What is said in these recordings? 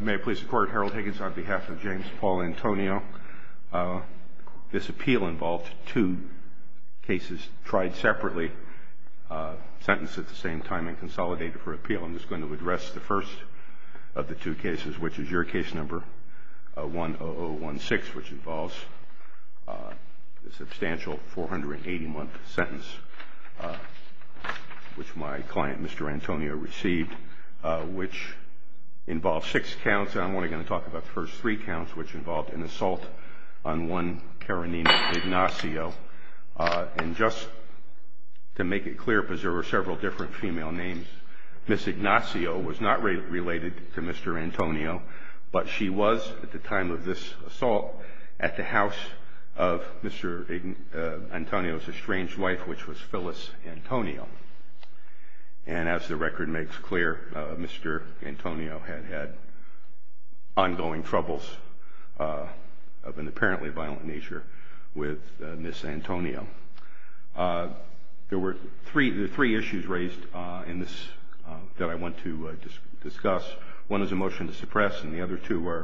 May I please the court, Harold Higgins, on behalf of James Paul Antonio. This appeal involved two cases tried separately, sentenced at the same time and consolidated for appeal. I'm just going to address the first of the two cases, which is your case number 10016, which involves a substantial 480-month sentence, which my client Mr. Antonio received, which involved six counts. I'm only going to talk about the first three counts, which involved an assault on one Karenina Ignacio. And just to make it clear, because there were several different female names, Ms. Ignacio was not related to Mr. Antonio, but she was at the time of this assault at the house of Mr. Antonio's estranged wife, which was Phyllis Antonio. And as the record makes clear, Mr. Antonio had had ongoing troubles of an apparently violent nature with Ms. Antonio. There were three issues raised in this that I want to discuss. One is a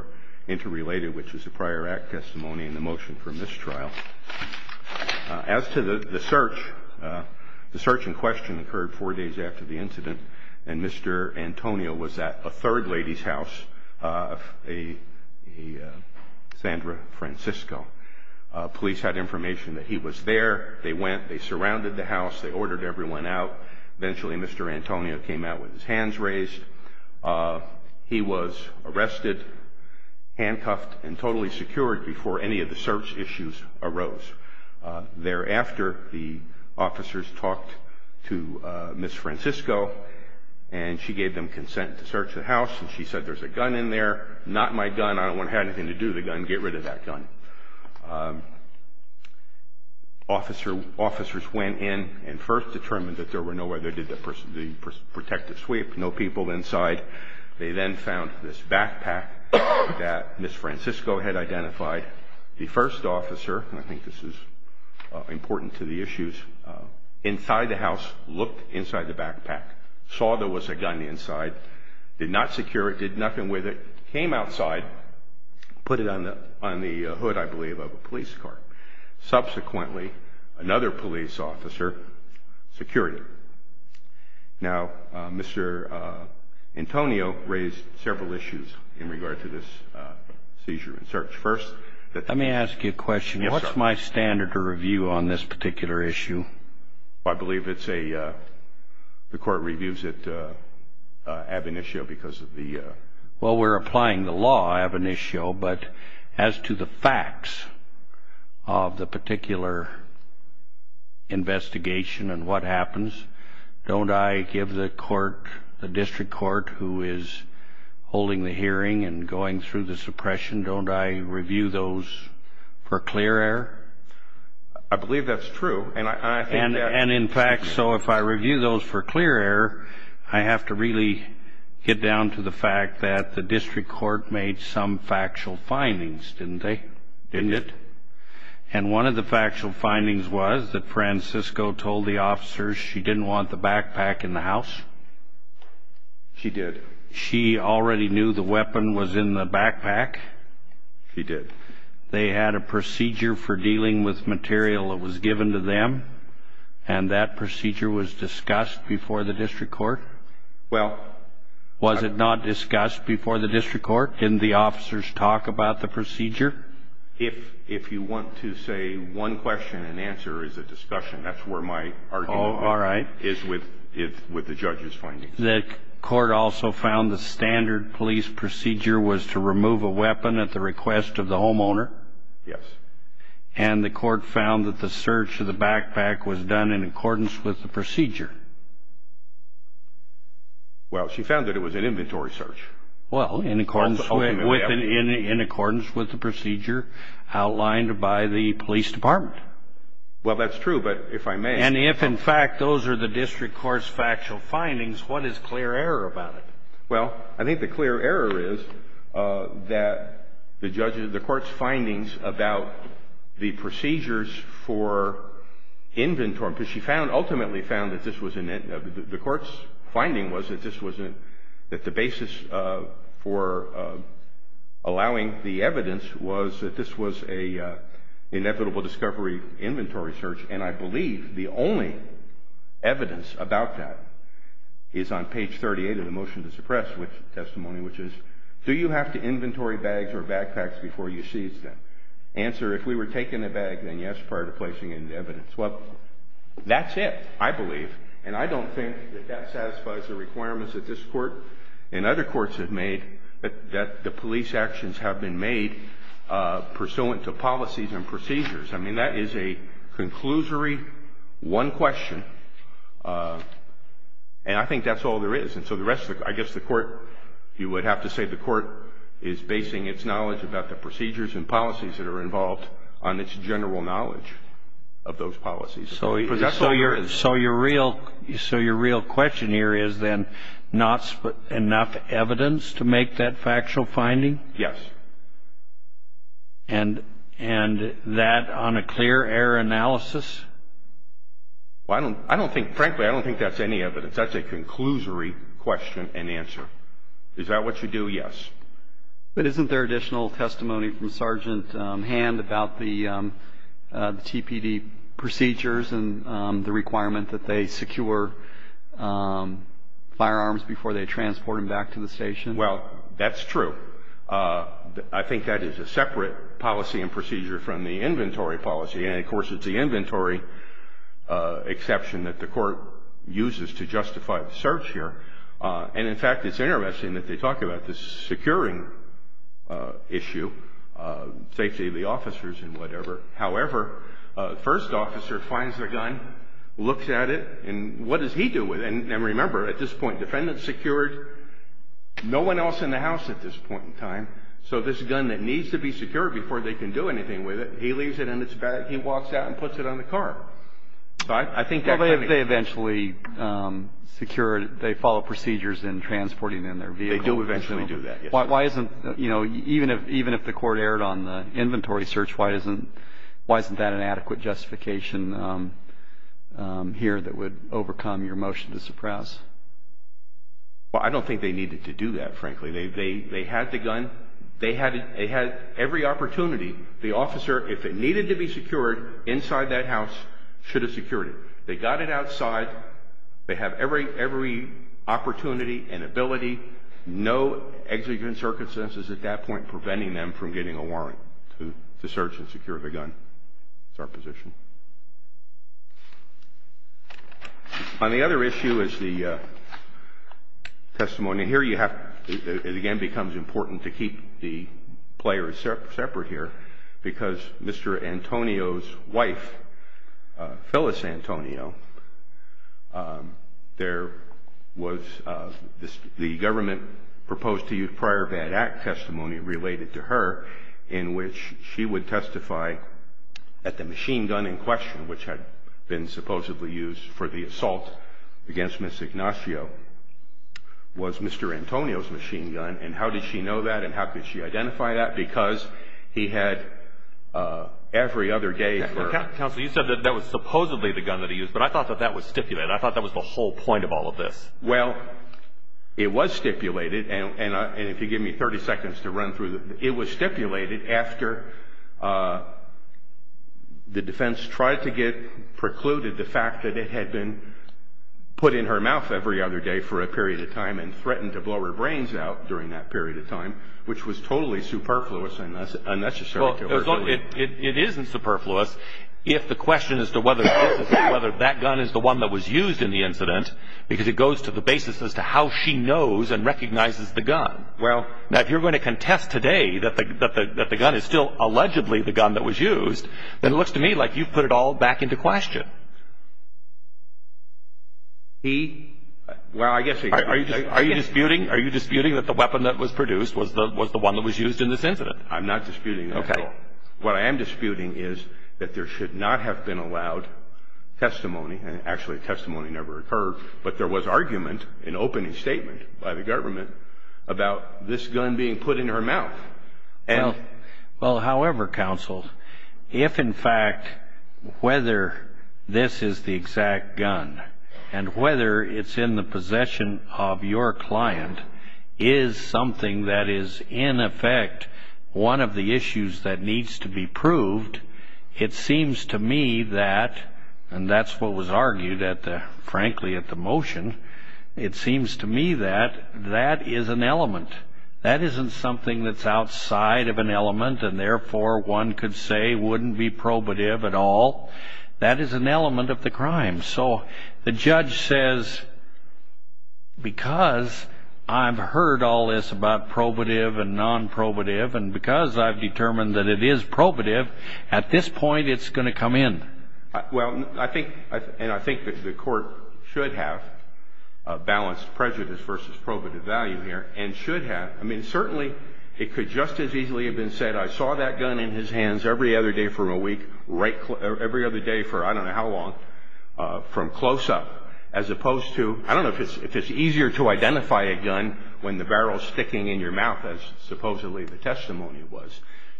interrelated, which is a prior act testimony in the motion for mistrial. As to the search, the search in question occurred four days after the incident, and Mr. Antonio was at a third lady's house, a Sandra Francisco. Police had information that he was there. They went, they surrounded the house, they ordered everyone out. Eventually, Mr. Antonio came out with his hands raised. He was arrested, handcuffed, and totally secured before any of the search issues arose. Thereafter, the officers talked to Ms. Francisco, and she gave them consent to search the house, and she said, there's a gun in there. Not my gun. I don't want to have anything to do with the gun. Get rid of that gun. Officers went in and first determined that there were no, they did the protective sweep, no people inside. They then found this backpack that Ms. Francisco had identified. The first officer, and I think this is important to the issues, inside the house, looked inside the backpack, saw there was a gun inside, did not secure it, did nothing with it, came outside, put it on the hood, I believe, of a gun. Antonio raised several issues in regard to this seizure and search. First, let me ask you a question. What's my standard to review on this particular issue? I believe it's a, the court reviews it ab initio because of the... Well, we're applying the law ab initio, but as to the facts of the particular investigation and what happens, don't I give the court, the district court who is holding the hearing and going through the suppression, don't I review those for clear error? I believe that's true, and I think that... And in fact, so if I review those for clear error, I have to really get down to the fact that the district court made some factual findings, didn't they? Didn't it? And one of the factual findings was that the officer, she didn't want the backpack in the house. She did. She already knew the weapon was in the backpack. She did. They had a procedure for dealing with material that was given to them, and that procedure was discussed before the district court. Well... Was it not discussed before the district court? Didn't the officers talk about the procedure? If, if you want to say one question and answer, it's a discussion. That's where my argument is with the judge's findings. The court also found the standard police procedure was to remove a weapon at the request of the homeowner? Yes. And the court found that the search of the backpack was done in accordance with the procedure? Well, she found that it was an inventory search. Well, in accordance with the procedure outlined by the police department. Well, that's true, but if I may... And if, in fact, those are the district court's factual findings, what is clear error about it? Well, I think the clear error is that the judge's, the court's findings about the procedures for inventory, because she found, ultimately found, that this was, the court's finding was that this wasn't, that the basis for allowing the evidence was that this was a inevitable discovery inventory search, and I believe the only evidence about that is on page 38 of the motion to suppress testimony, which is, do you have to inventory bags or backpacks before you seize them? Answer, if we were taking a bag, then yes, prior to placing in evidence. Well, that's it, I don't think that that satisfies the requirements that this court and other courts have made that the police actions have been made pursuant to policies and procedures. I mean, that is a conclusory one question, and I think that's all there is. And so the rest of the, I guess the court, you would have to say the court is basing its knowledge about the procedures and policies that are involved on its general knowledge of those policies. So your real question here is then, not enough evidence to make that factual finding? Yes. And that on a clear error analysis? Well, I don't think, frankly, I don't think that's any evidence. That's a conclusory question and answer. Is that what you do? Yes. But isn't there additional testimony from Sergeant Hand about the TPD procedures and the requirement that they secure firearms before they transport them back to the station? Well, that's true. I think that is a separate policy and procedure from the inventory policy. And, of course, it's the inventory exception that the court uses to justify the search here. And, in fact, it's interesting that they talk about the security of the equipment. It's a securing issue, safety of the officers and whatever. However, first officer finds their gun, looks at it, and what does he do with it? And remember, at this point, defendant secured, no one else in the house at this point in time, so this gun that needs to be secured before they can do anything with it, he leaves it in its bag, he walks out and puts it on the car. I think that could be. Well, they eventually secure, they follow procedures in transporting in their vehicle. They do eventually do that, yes. Why isn't, you know, even if the court erred on the inventory search, why isn't that an adequate justification here that would overcome your motion to suppress? Well, I don't think they needed to do that, frankly. They had the gun. They had every opportunity. The officer, if it needed to be secured inside that house, should have secured it. They got it outside. They have every opportunity and ability. No executive authority, no one else in the house. In certain circumstances, at that point, preventing them from getting a warrant to search and secure the gun. That's our position. On the other issue is the testimony. Here you have, it again becomes important to keep the players separate here, because Mr. Antonio's wife, Phyllis Antonio, there was, the government proposed to use prior bad act testimony related to her, in which she would testify at the machine gun in question, which had been supposedly used for the assault against Miss Ignacio was Mr. Antonio's machine gun. And how did she know that? And how could she identify that? Because he had every other day. Counsel, you said that that was supposedly the gun that he used, but I thought that that was stipulated. I thought that was the whole point of all of this. Well, it was stipulated. And if you give me 30 seconds to run through, it was stipulated after the defense tried to get precluded the fact that it had been put in her mouth every other day for a period of time and threatened to blow her brains out during that period of time, which was totally superfluous and unnecessary. It isn't superfluous if the question is to whether that gun is the one that was used in the incident, because it goes to the basis as to how she knows and recognizes the gun. Well, if you're going to contest today that the gun is still allegedly the gun that was used, then it looks to me like you've put it all back into question. He, well, I guess. Are you disputing that the weapon that was produced was the one that was used in this incident? I'm not disputing that at all. What I am disputing is that there should not have been allowed testimony, and actually testimony never occurred, but there was argument, an opening statement by the government, about this gun being put in her mouth. That isn't something that's outside of an element, and therefore one could say wouldn't be probative at all. That is an element of the crime. So the judge says, because I've heard all this about probative and non-probative, and because I've determined that it is probative, at this point it's going to come in. Well, and I think that the court should have a balanced prejudice versus probative value here, and should have. I mean, certainly it could just as easily have been said, I saw that gun in his hands every other day for a week, every other day for I don't know how long, from close up, as opposed to, I don't know if it's easier to identify a gun when the barrel's sticking in your mouth, as supposedly the testimony was.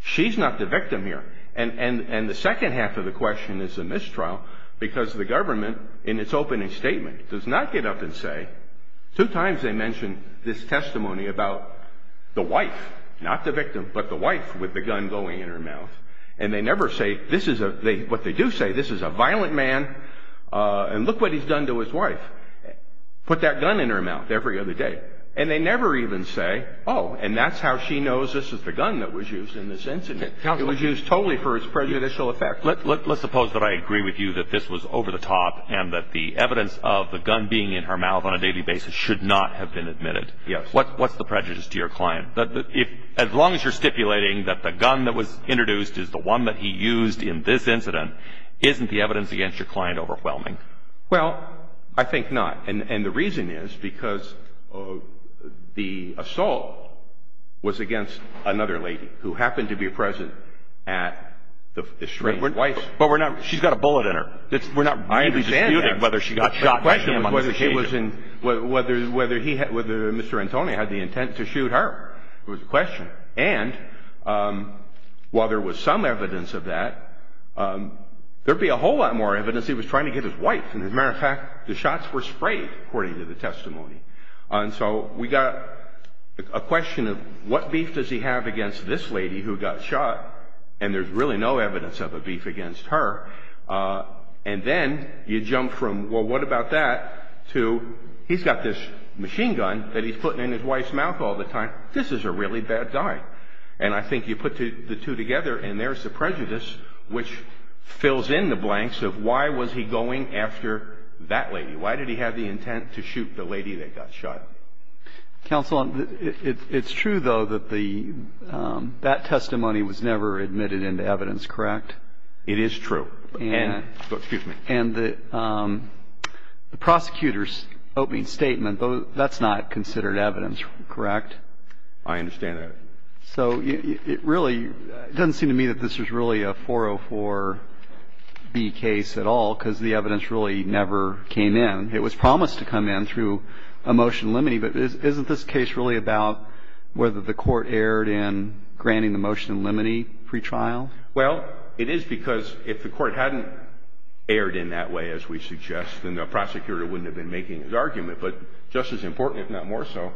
She's not the victim here, and the second half of the question is a mistrial, because the government, in its opening statement, does not get up and say, two times they mentioned this testimony about the wife, not the victim, but the wife with the gun going in her mouth, and they never say, what they do say, this is a violent man, and look what he's done to his wife. Put that gun in her mouth every other day, and they never even say, oh, and that's how she knows this is the gun that was used in this incident. It was used totally for its prejudicial effect. Let's suppose that I agree with you that this was over the top, and that the evidence of the gun being in her mouth on a daily basis should not have been admitted. Yes. What's the prejudice to your client? As long as you're stipulating that the gun that was introduced is the one that he used in this incident, isn't the evidence against your client overwhelming? Well, I think not, and the reason is because the assault was against another lady, who happened to be present at the stranger's place. But she's got a bullet in her. I understand that. We're not really disputing whether she got shot by him on the station. The question was whether Mr. Antonio had the intent to shoot her. It was a question. And while there was some evidence of that, there'd be a whole lot more evidence he was trying to get his wife. As a matter of fact, the shots were sprayed, according to the testimony. And so we got a question of what beef does he have against this lady who got shot, and there's really no evidence of a beef against her. And then you jump from, well, what about that, to he's got this machine gun that he's putting in his wife's mouth all the time. This is a really bad guy. And I think you put the two together, and there's the prejudice, which fills in the blanks of why was he going after that lady. Why did he have the intent to shoot the lady that got shot? Counsel, it's true, though, that that testimony was never admitted into evidence, correct? It is true. And the prosecutor's opening statement, that's not considered evidence, correct? I understand that. So it really doesn't seem to me that this was really a 404B case at all, because the evidence really never came in. It was promised to come in through a motion limine, but isn't this case really about whether the court erred in granting the motion limine pretrial? Well, it is because if the court hadn't erred in that way, as we suggest, then the prosecutor wouldn't have been making his argument. But just as important, if not more so,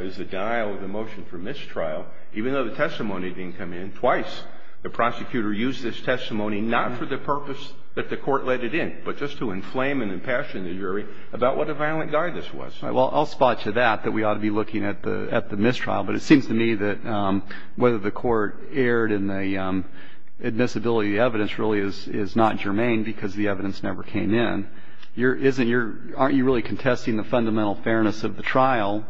is the denial of the motion for mistrial. Even though the testimony didn't come in twice, the prosecutor used this testimony not for the purpose that the court let it in, but just to inflame and impassion the jury about what a violent guy this was. Well, I'll spot you that, that we ought to be looking at the mistrial. But it seems to me that whether the court erred in the admissibility of the evidence really is not germane because the evidence never came in. Aren't you really contesting the fundamental fairness of the trial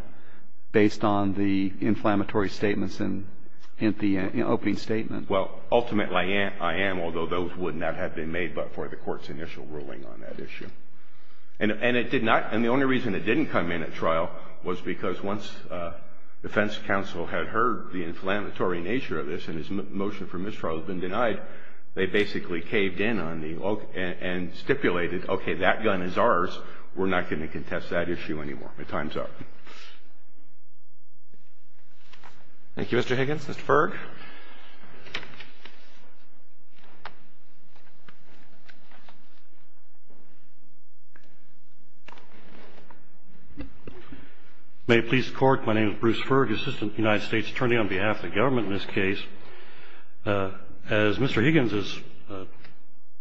based on the inflammatory statements in the opening statement? Well, ultimately I am, although those would not have been made but for the court's initial ruling on that issue. And it did not, and the only reason it didn't come in at trial was because once defense counsel had heard the inflammatory nature of this and his motion for mistrial had been denied, they basically caved in on the, and stipulated, okay, that gun is ours. We're not going to contest that issue anymore. The time's up. Thank you, Mr. Higgins. Mr. Ferg. May it please the Court, my name is Bruce Ferg, Assistant United States Attorney on behalf of the government in this case. As Mr. Higgins has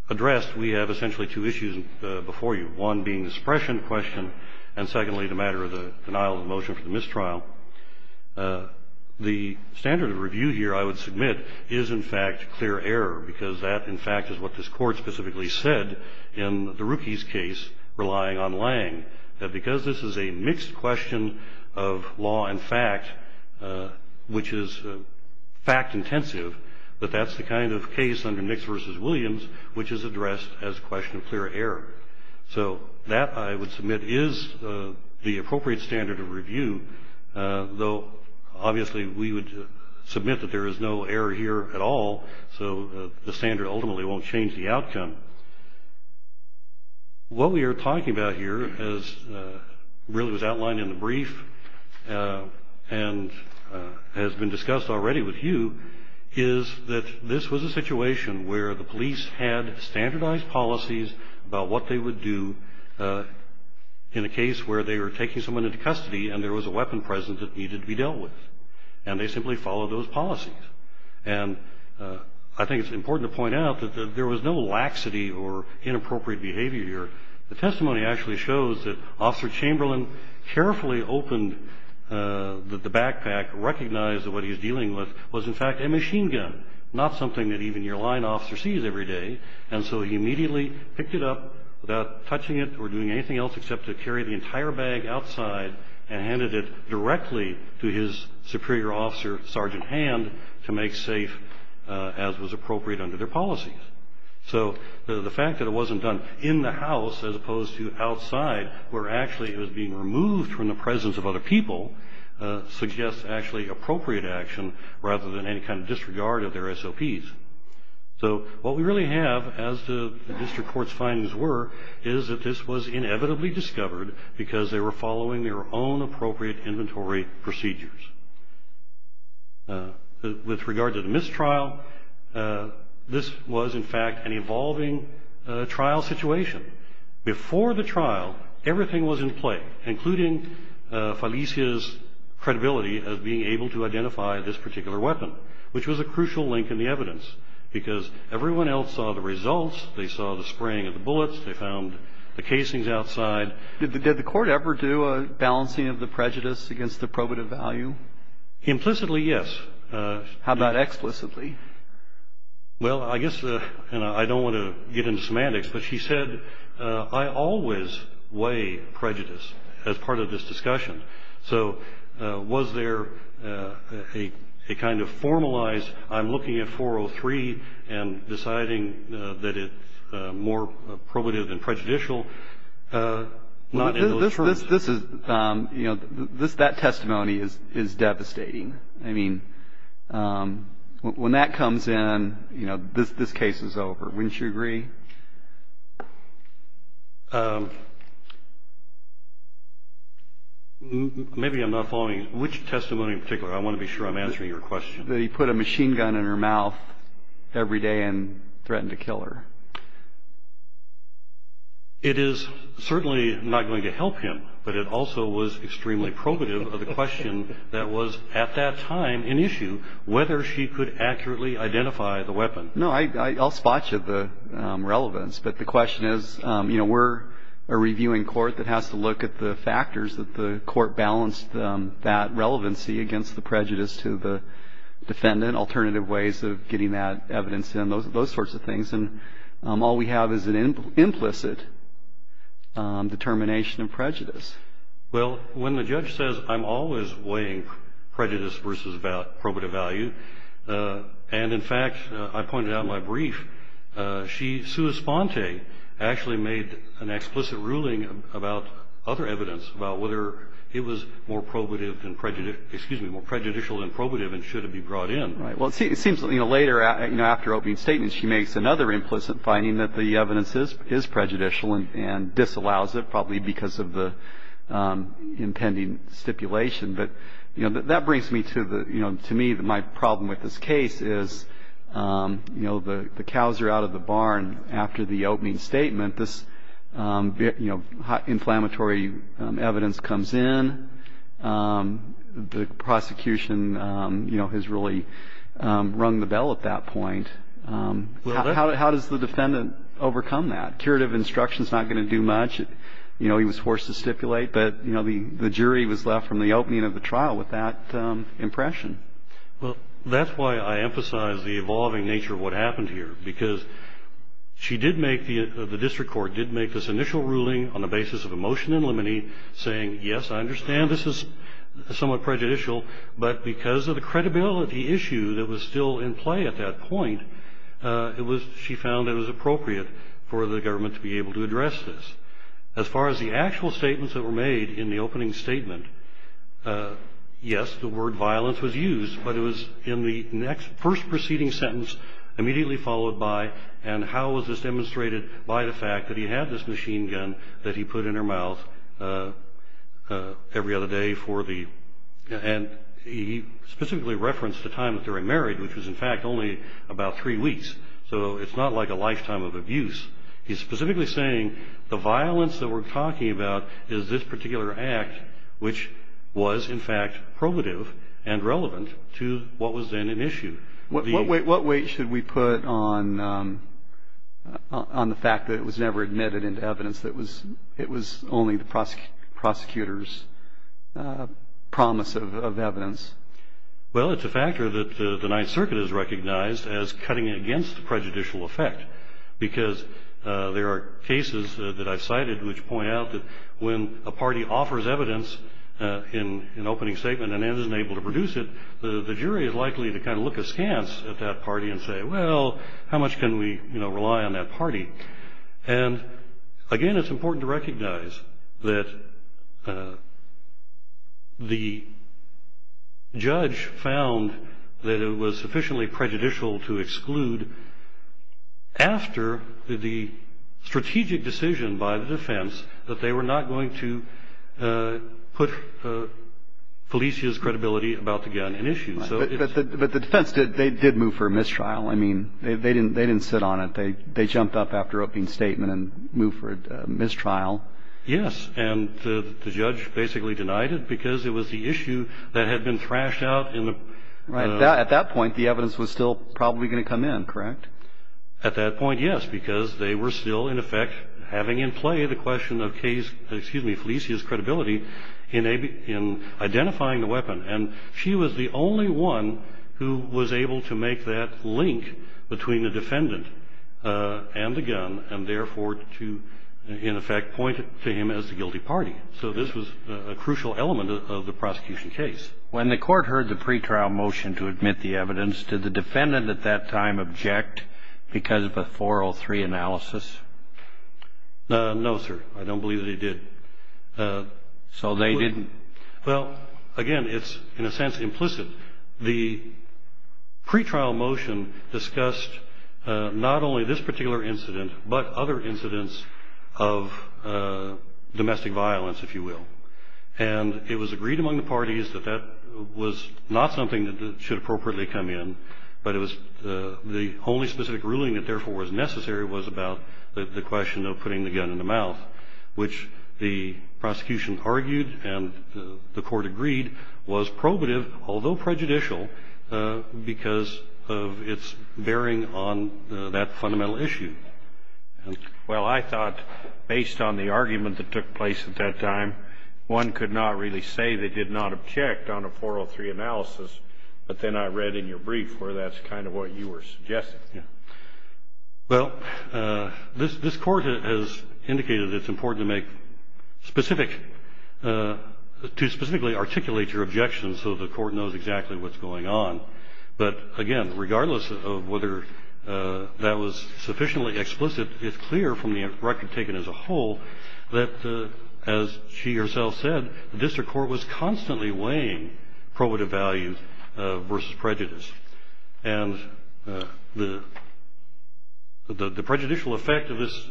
addressed, we have essentially two issues before you, one being the suppression question, and secondly the matter of the denial of the motion for the mistrial. Now, the standard of review here, I would submit, is in fact clear error because that, in fact, is what this Court specifically said in the Rookies case relying on Lange, that because this is a mixed question of law and fact, which is fact intensive, that that's the kind of case under Nix v. Williams which is addressed as a question of clear error. So that, I would submit, is the appropriate standard of review, though obviously we would submit that there is no error here at all, so the standard ultimately won't change the outcome. What we are talking about here, as really was outlined in the brief and has been discussed already with you, is that this was a situation where the police had standardized policies about what they would do in a case where they were taking someone into custody and there was a weapon present that needed to be dealt with, and they simply followed those policies. And I think it's important to point out that there was no laxity or inappropriate behavior here. The testimony actually shows that Officer Chamberlain carefully opened the backpack, recognized that what he was dealing with was in fact a machine gun, not something that even your line officer sees every day, and so he immediately picked it up without touching it or doing anything else except to carry the entire bag outside and handed it directly to his superior officer, Sergeant Hand, to make safe as was appropriate under their policies. So the fact that it wasn't done in the house as opposed to outside, where actually it was being removed from the presence of other people, suggests actually appropriate action rather than any kind of disregard of their SOPs. So what we really have, as the district court's findings were, is that this was inevitably discovered because they were following their own appropriate inventory procedures. With regard to the mistrial, this was in fact an evolving trial situation. Before the trial, everything was in play, including Felicia's credibility of being able to identify this particular weapon, which was a crucial link in the evidence because everyone else saw the results. They saw the spraying of the bullets. They found the casings outside. Did the court ever do a balancing of the prejudice against the probative value? Implicitly, yes. How about explicitly? Well, I guess I don't want to get into semantics, but she said, I always weigh prejudice as part of this discussion. So was there a kind of formalized, I'm looking at 403 and deciding that it's more probative than prejudicial, not in those terms? That testimony is devastating. I mean, when that comes in, you know, this case is over. Wouldn't you agree? Maybe I'm not following. Which testimony in particular? I want to be sure I'm answering your question. That he put a machine gun in her mouth every day and threatened to kill her. It is certainly not going to help him, but it also was extremely probative of the question that was at that time an issue, whether she could accurately identify the weapon. No, I'll spot you the relevance. But the question is, you know, we're a reviewing court that has to look at the factors that the court balanced that relevancy against the prejudice to the defendant, alternative ways of getting that evidence in, those sorts of things. And all we have is an implicit determination of prejudice. Well, when the judge says, I'm always weighing prejudice versus probative value, and in fact I pointed out in my brief, Sue Esponte actually made an explicit ruling about other evidence about whether it was more probative than prejudicial, excuse me, more prejudicial than probative and should it be brought in. Well, it seems later after opening statement, she makes another implicit finding that the evidence is prejudicial and disallows it, probably because of the impending stipulation. But that brings me to the, you know, to me, my problem with this case is, you know, the cows are out of the barn after the opening statement. This, you know, inflammatory evidence comes in. The prosecution, you know, has really rung the bell at that point. How does the defendant overcome that? Curative instruction is not going to do much. You know, he was forced to stipulate, but, you know, the jury was left from the opening of the trial with that impression. Well, that's why I emphasize the evolving nature of what happened here, because she did make, the district court did make this initial ruling on the basis of a motion in limine saying, yes, I understand this is somewhat prejudicial, but because of the credibility issue that was still in play at that point, it was, she found it was appropriate for the government to be able to address this. As far as the actual statements that were made in the opening statement, yes, the word violence was used, but it was in the next, first proceeding sentence immediately followed by, and how was this demonstrated by the fact that he had this machine gun that he put in her mouth every other day for the, and he specifically referenced the time that they were married, which was, in fact, only about three weeks. So it's not like a lifetime of abuse. He's specifically saying the violence that we're talking about is this particular act, which was, in fact, probative and relevant to what was then an issue. What weight should we put on the fact that it was never admitted into evidence, that it was only the prosecutor's promise of evidence? Well, it's a factor that the Ninth Circuit has recognized as cutting against prejudicial effect, because there are cases that I've cited which point out that when a party offers evidence in an opening statement and isn't able to produce it, the jury is likely to kind of look askance at that party and say, well, how much can we rely on that party? And, again, it's important to recognize that the judge found that it was sufficiently prejudicial to exclude after the strategic decision by the defense that they were not going to put Felicia's credibility about the gun in issue. But the defense did move for a mistrial. I mean, they didn't sit on it. They jumped up after opening statement and moved for a mistrial. Yes, and the judge basically denied it because it was the issue that had been thrashed out in the ---- At that point, the evidence was still probably going to come in, correct? At that point, yes, because they were still, in effect, having in play the question of Felicia's credibility in identifying the weapon. And she was the only one who was able to make that link between the defendant and the gun and, therefore, to, in effect, point to him as the guilty party. So this was a crucial element of the prosecution case. When the court heard the pretrial motion to admit the evidence, did the defendant at that time object because of a 403 analysis? No, sir. I don't believe that he did. So they didn't? Well, again, it's, in a sense, implicit. The pretrial motion discussed not only this particular incident but other incidents of domestic violence, if you will. And it was agreed among the parties that that was not something that should appropriately come in, but the only specific ruling that, therefore, was necessary was about the question of putting the gun in the mouth, which the prosecution argued and the court agreed was probative, although prejudicial, because of its bearing on that fundamental issue. Well, I thought, based on the argument that took place at that time, one could not really say they did not object on a 403 analysis, but then I read in your brief where that's kind of what you were suggesting. Yeah. Well, this court has indicated it's important to make specific, to specifically articulate your objections so the court knows exactly what's going on. But, again, regardless of whether that was sufficiently explicit, it's clear from the record taken as a whole that, as she herself said, the district court was constantly weighing probative value versus prejudice. And the prejudicial effect of this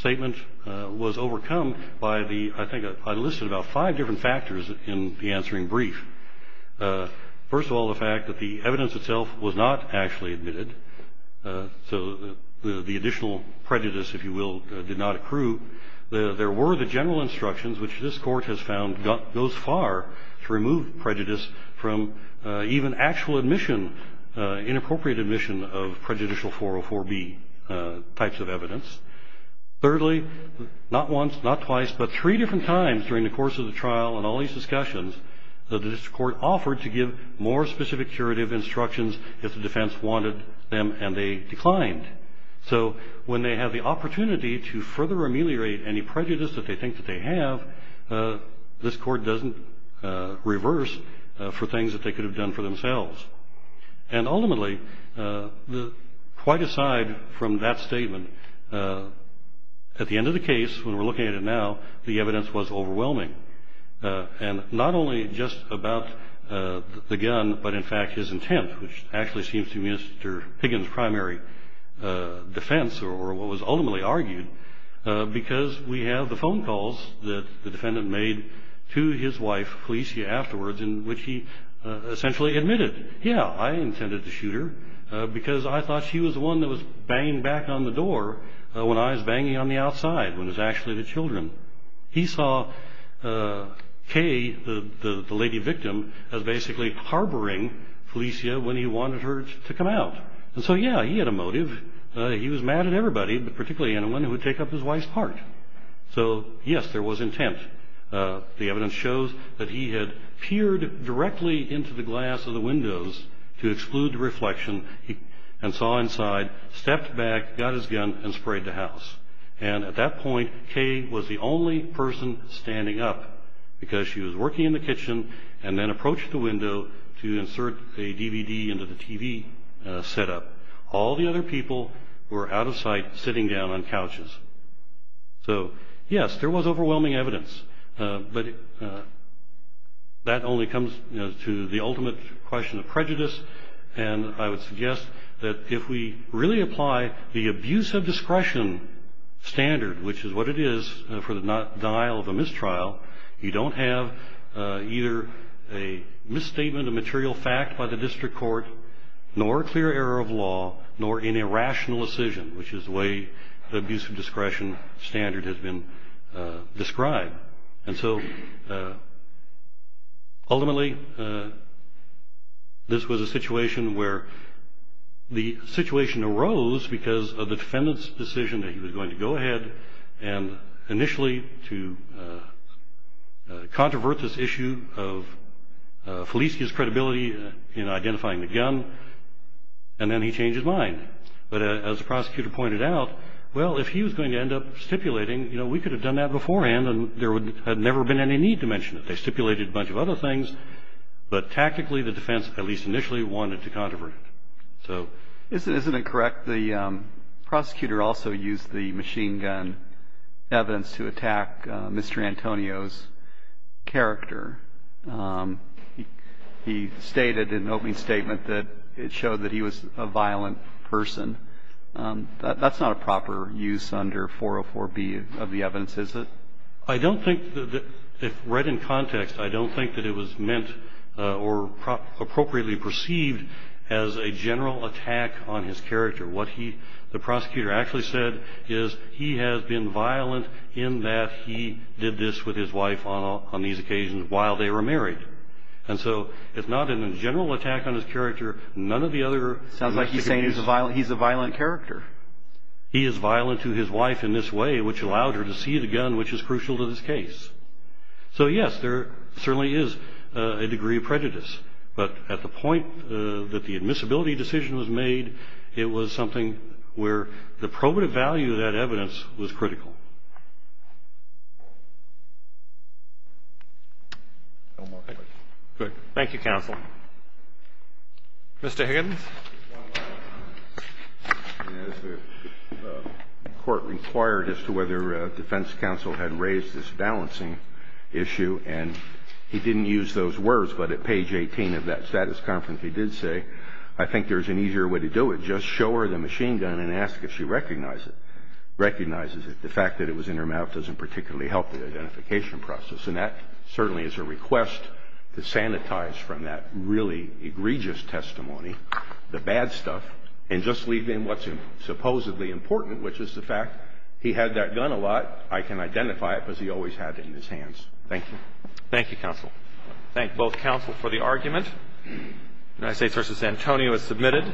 statement was overcome by the, I think, I listed about five different factors in the answering brief. First of all, the fact that the evidence itself was not actually admitted, so the additional prejudice, if you will, did not accrue. There were the general instructions, which this court has found goes far to remove prejudice from even actual admission, inappropriate admission of prejudicial 404B types of evidence. Thirdly, not once, not twice, but three different times during the course of the trial and all these discussions, the district court offered to give more specific curative instructions if the defense wanted them and they declined. So when they have the opportunity to further ameliorate any prejudice that they think that they have, this court doesn't reverse for things that they could have done for themselves. And, ultimately, quite aside from that statement, at the end of the case, when we're looking at it now, the evidence was overwhelming. And not only just about the gun, but, in fact, his intent, which actually seems to be Mr. Higgins' primary defense, or what was ultimately argued, because we have the phone calls that the defendant made to his wife, Felicia, afterwards, in which he essentially admitted, yeah, I intended to shoot her because I thought she was the one that was banging back on the door when I was banging on the outside, when it was actually the children. He saw Kay, the lady victim, as basically harboring Felicia when he wanted her to come out. And so, yeah, he had a motive. He was mad at everybody, particularly anyone who would take up his wife's part. So, yes, there was intent. The evidence shows that he had peered directly into the glass of the windows to exclude the reflection and saw inside, stepped back, got his gun, and sprayed the house. And at that point, Kay was the only person standing up because she was working in the kitchen and then approached the window to insert a DVD into the TV setup. All the other people were out of sight, sitting down on couches. So, yes, there was overwhelming evidence. But that only comes to the ultimate question of prejudice. And I would suggest that if we really apply the abuse of discretion standard, which is what it is for the denial of a mistrial, you don't have either a misstatement of material fact by the district court, nor a clear error of law, nor any rational decision, which is the way the abuse of discretion standard has been described. And so, ultimately, this was a situation where the situation arose because of the defendant's decision that he was going to go ahead and initially to controvert this issue of Felicia's credibility in identifying the gun, and then he changed his mind. But as the prosecutor pointed out, well, if he was going to end up stipulating, you know, we could have done that beforehand, and there had never been any need to mention it. They stipulated a bunch of other things. But tactically, the defense, at least initially, wanted to controvert it. So isn't it correct the prosecutor also used the machine gun evidence to attack Mr. Antonio's character? He stated in an opening statement that it showed that he was a violent person. That's not a proper use under 404B of the evidence, is it? I don't think that, if read in context, I don't think that it was meant or appropriately perceived as a general attack on his character. What he, the prosecutor, actually said is he has been violent in that he did this with his wife on these occasions while they were married. And so it's not a general attack on his character. None of the other characteristics. Sounds like he's saying he's a violent character. He is violent to his wife in this way, which allowed her to see the gun, which is crucial to this case. So, yes, there certainly is a degree of prejudice. But at the point that the admissibility decision was made, it was something where the probative value of that evidence was critical. Thank you, counsel. Mr. Higgins. As the Court required as to whether defense counsel had raised this balancing issue, and he didn't use those words, but at page 18 of that status conference he did say, I think there's an easier way to do it. Just show her the machine gun and ask if she recognizes it. The fact that it was in her mouth doesn't particularly help the identification process. And that certainly is a request to sanitize from that really egregious testimony the bad stuff and just leave in what's supposedly important, which is the fact he had that gun a lot. I can identify it because he always had it in his hands. Thank you. Thank you, counsel. Thank both counsel for the argument. United States v. Antonio is submitted.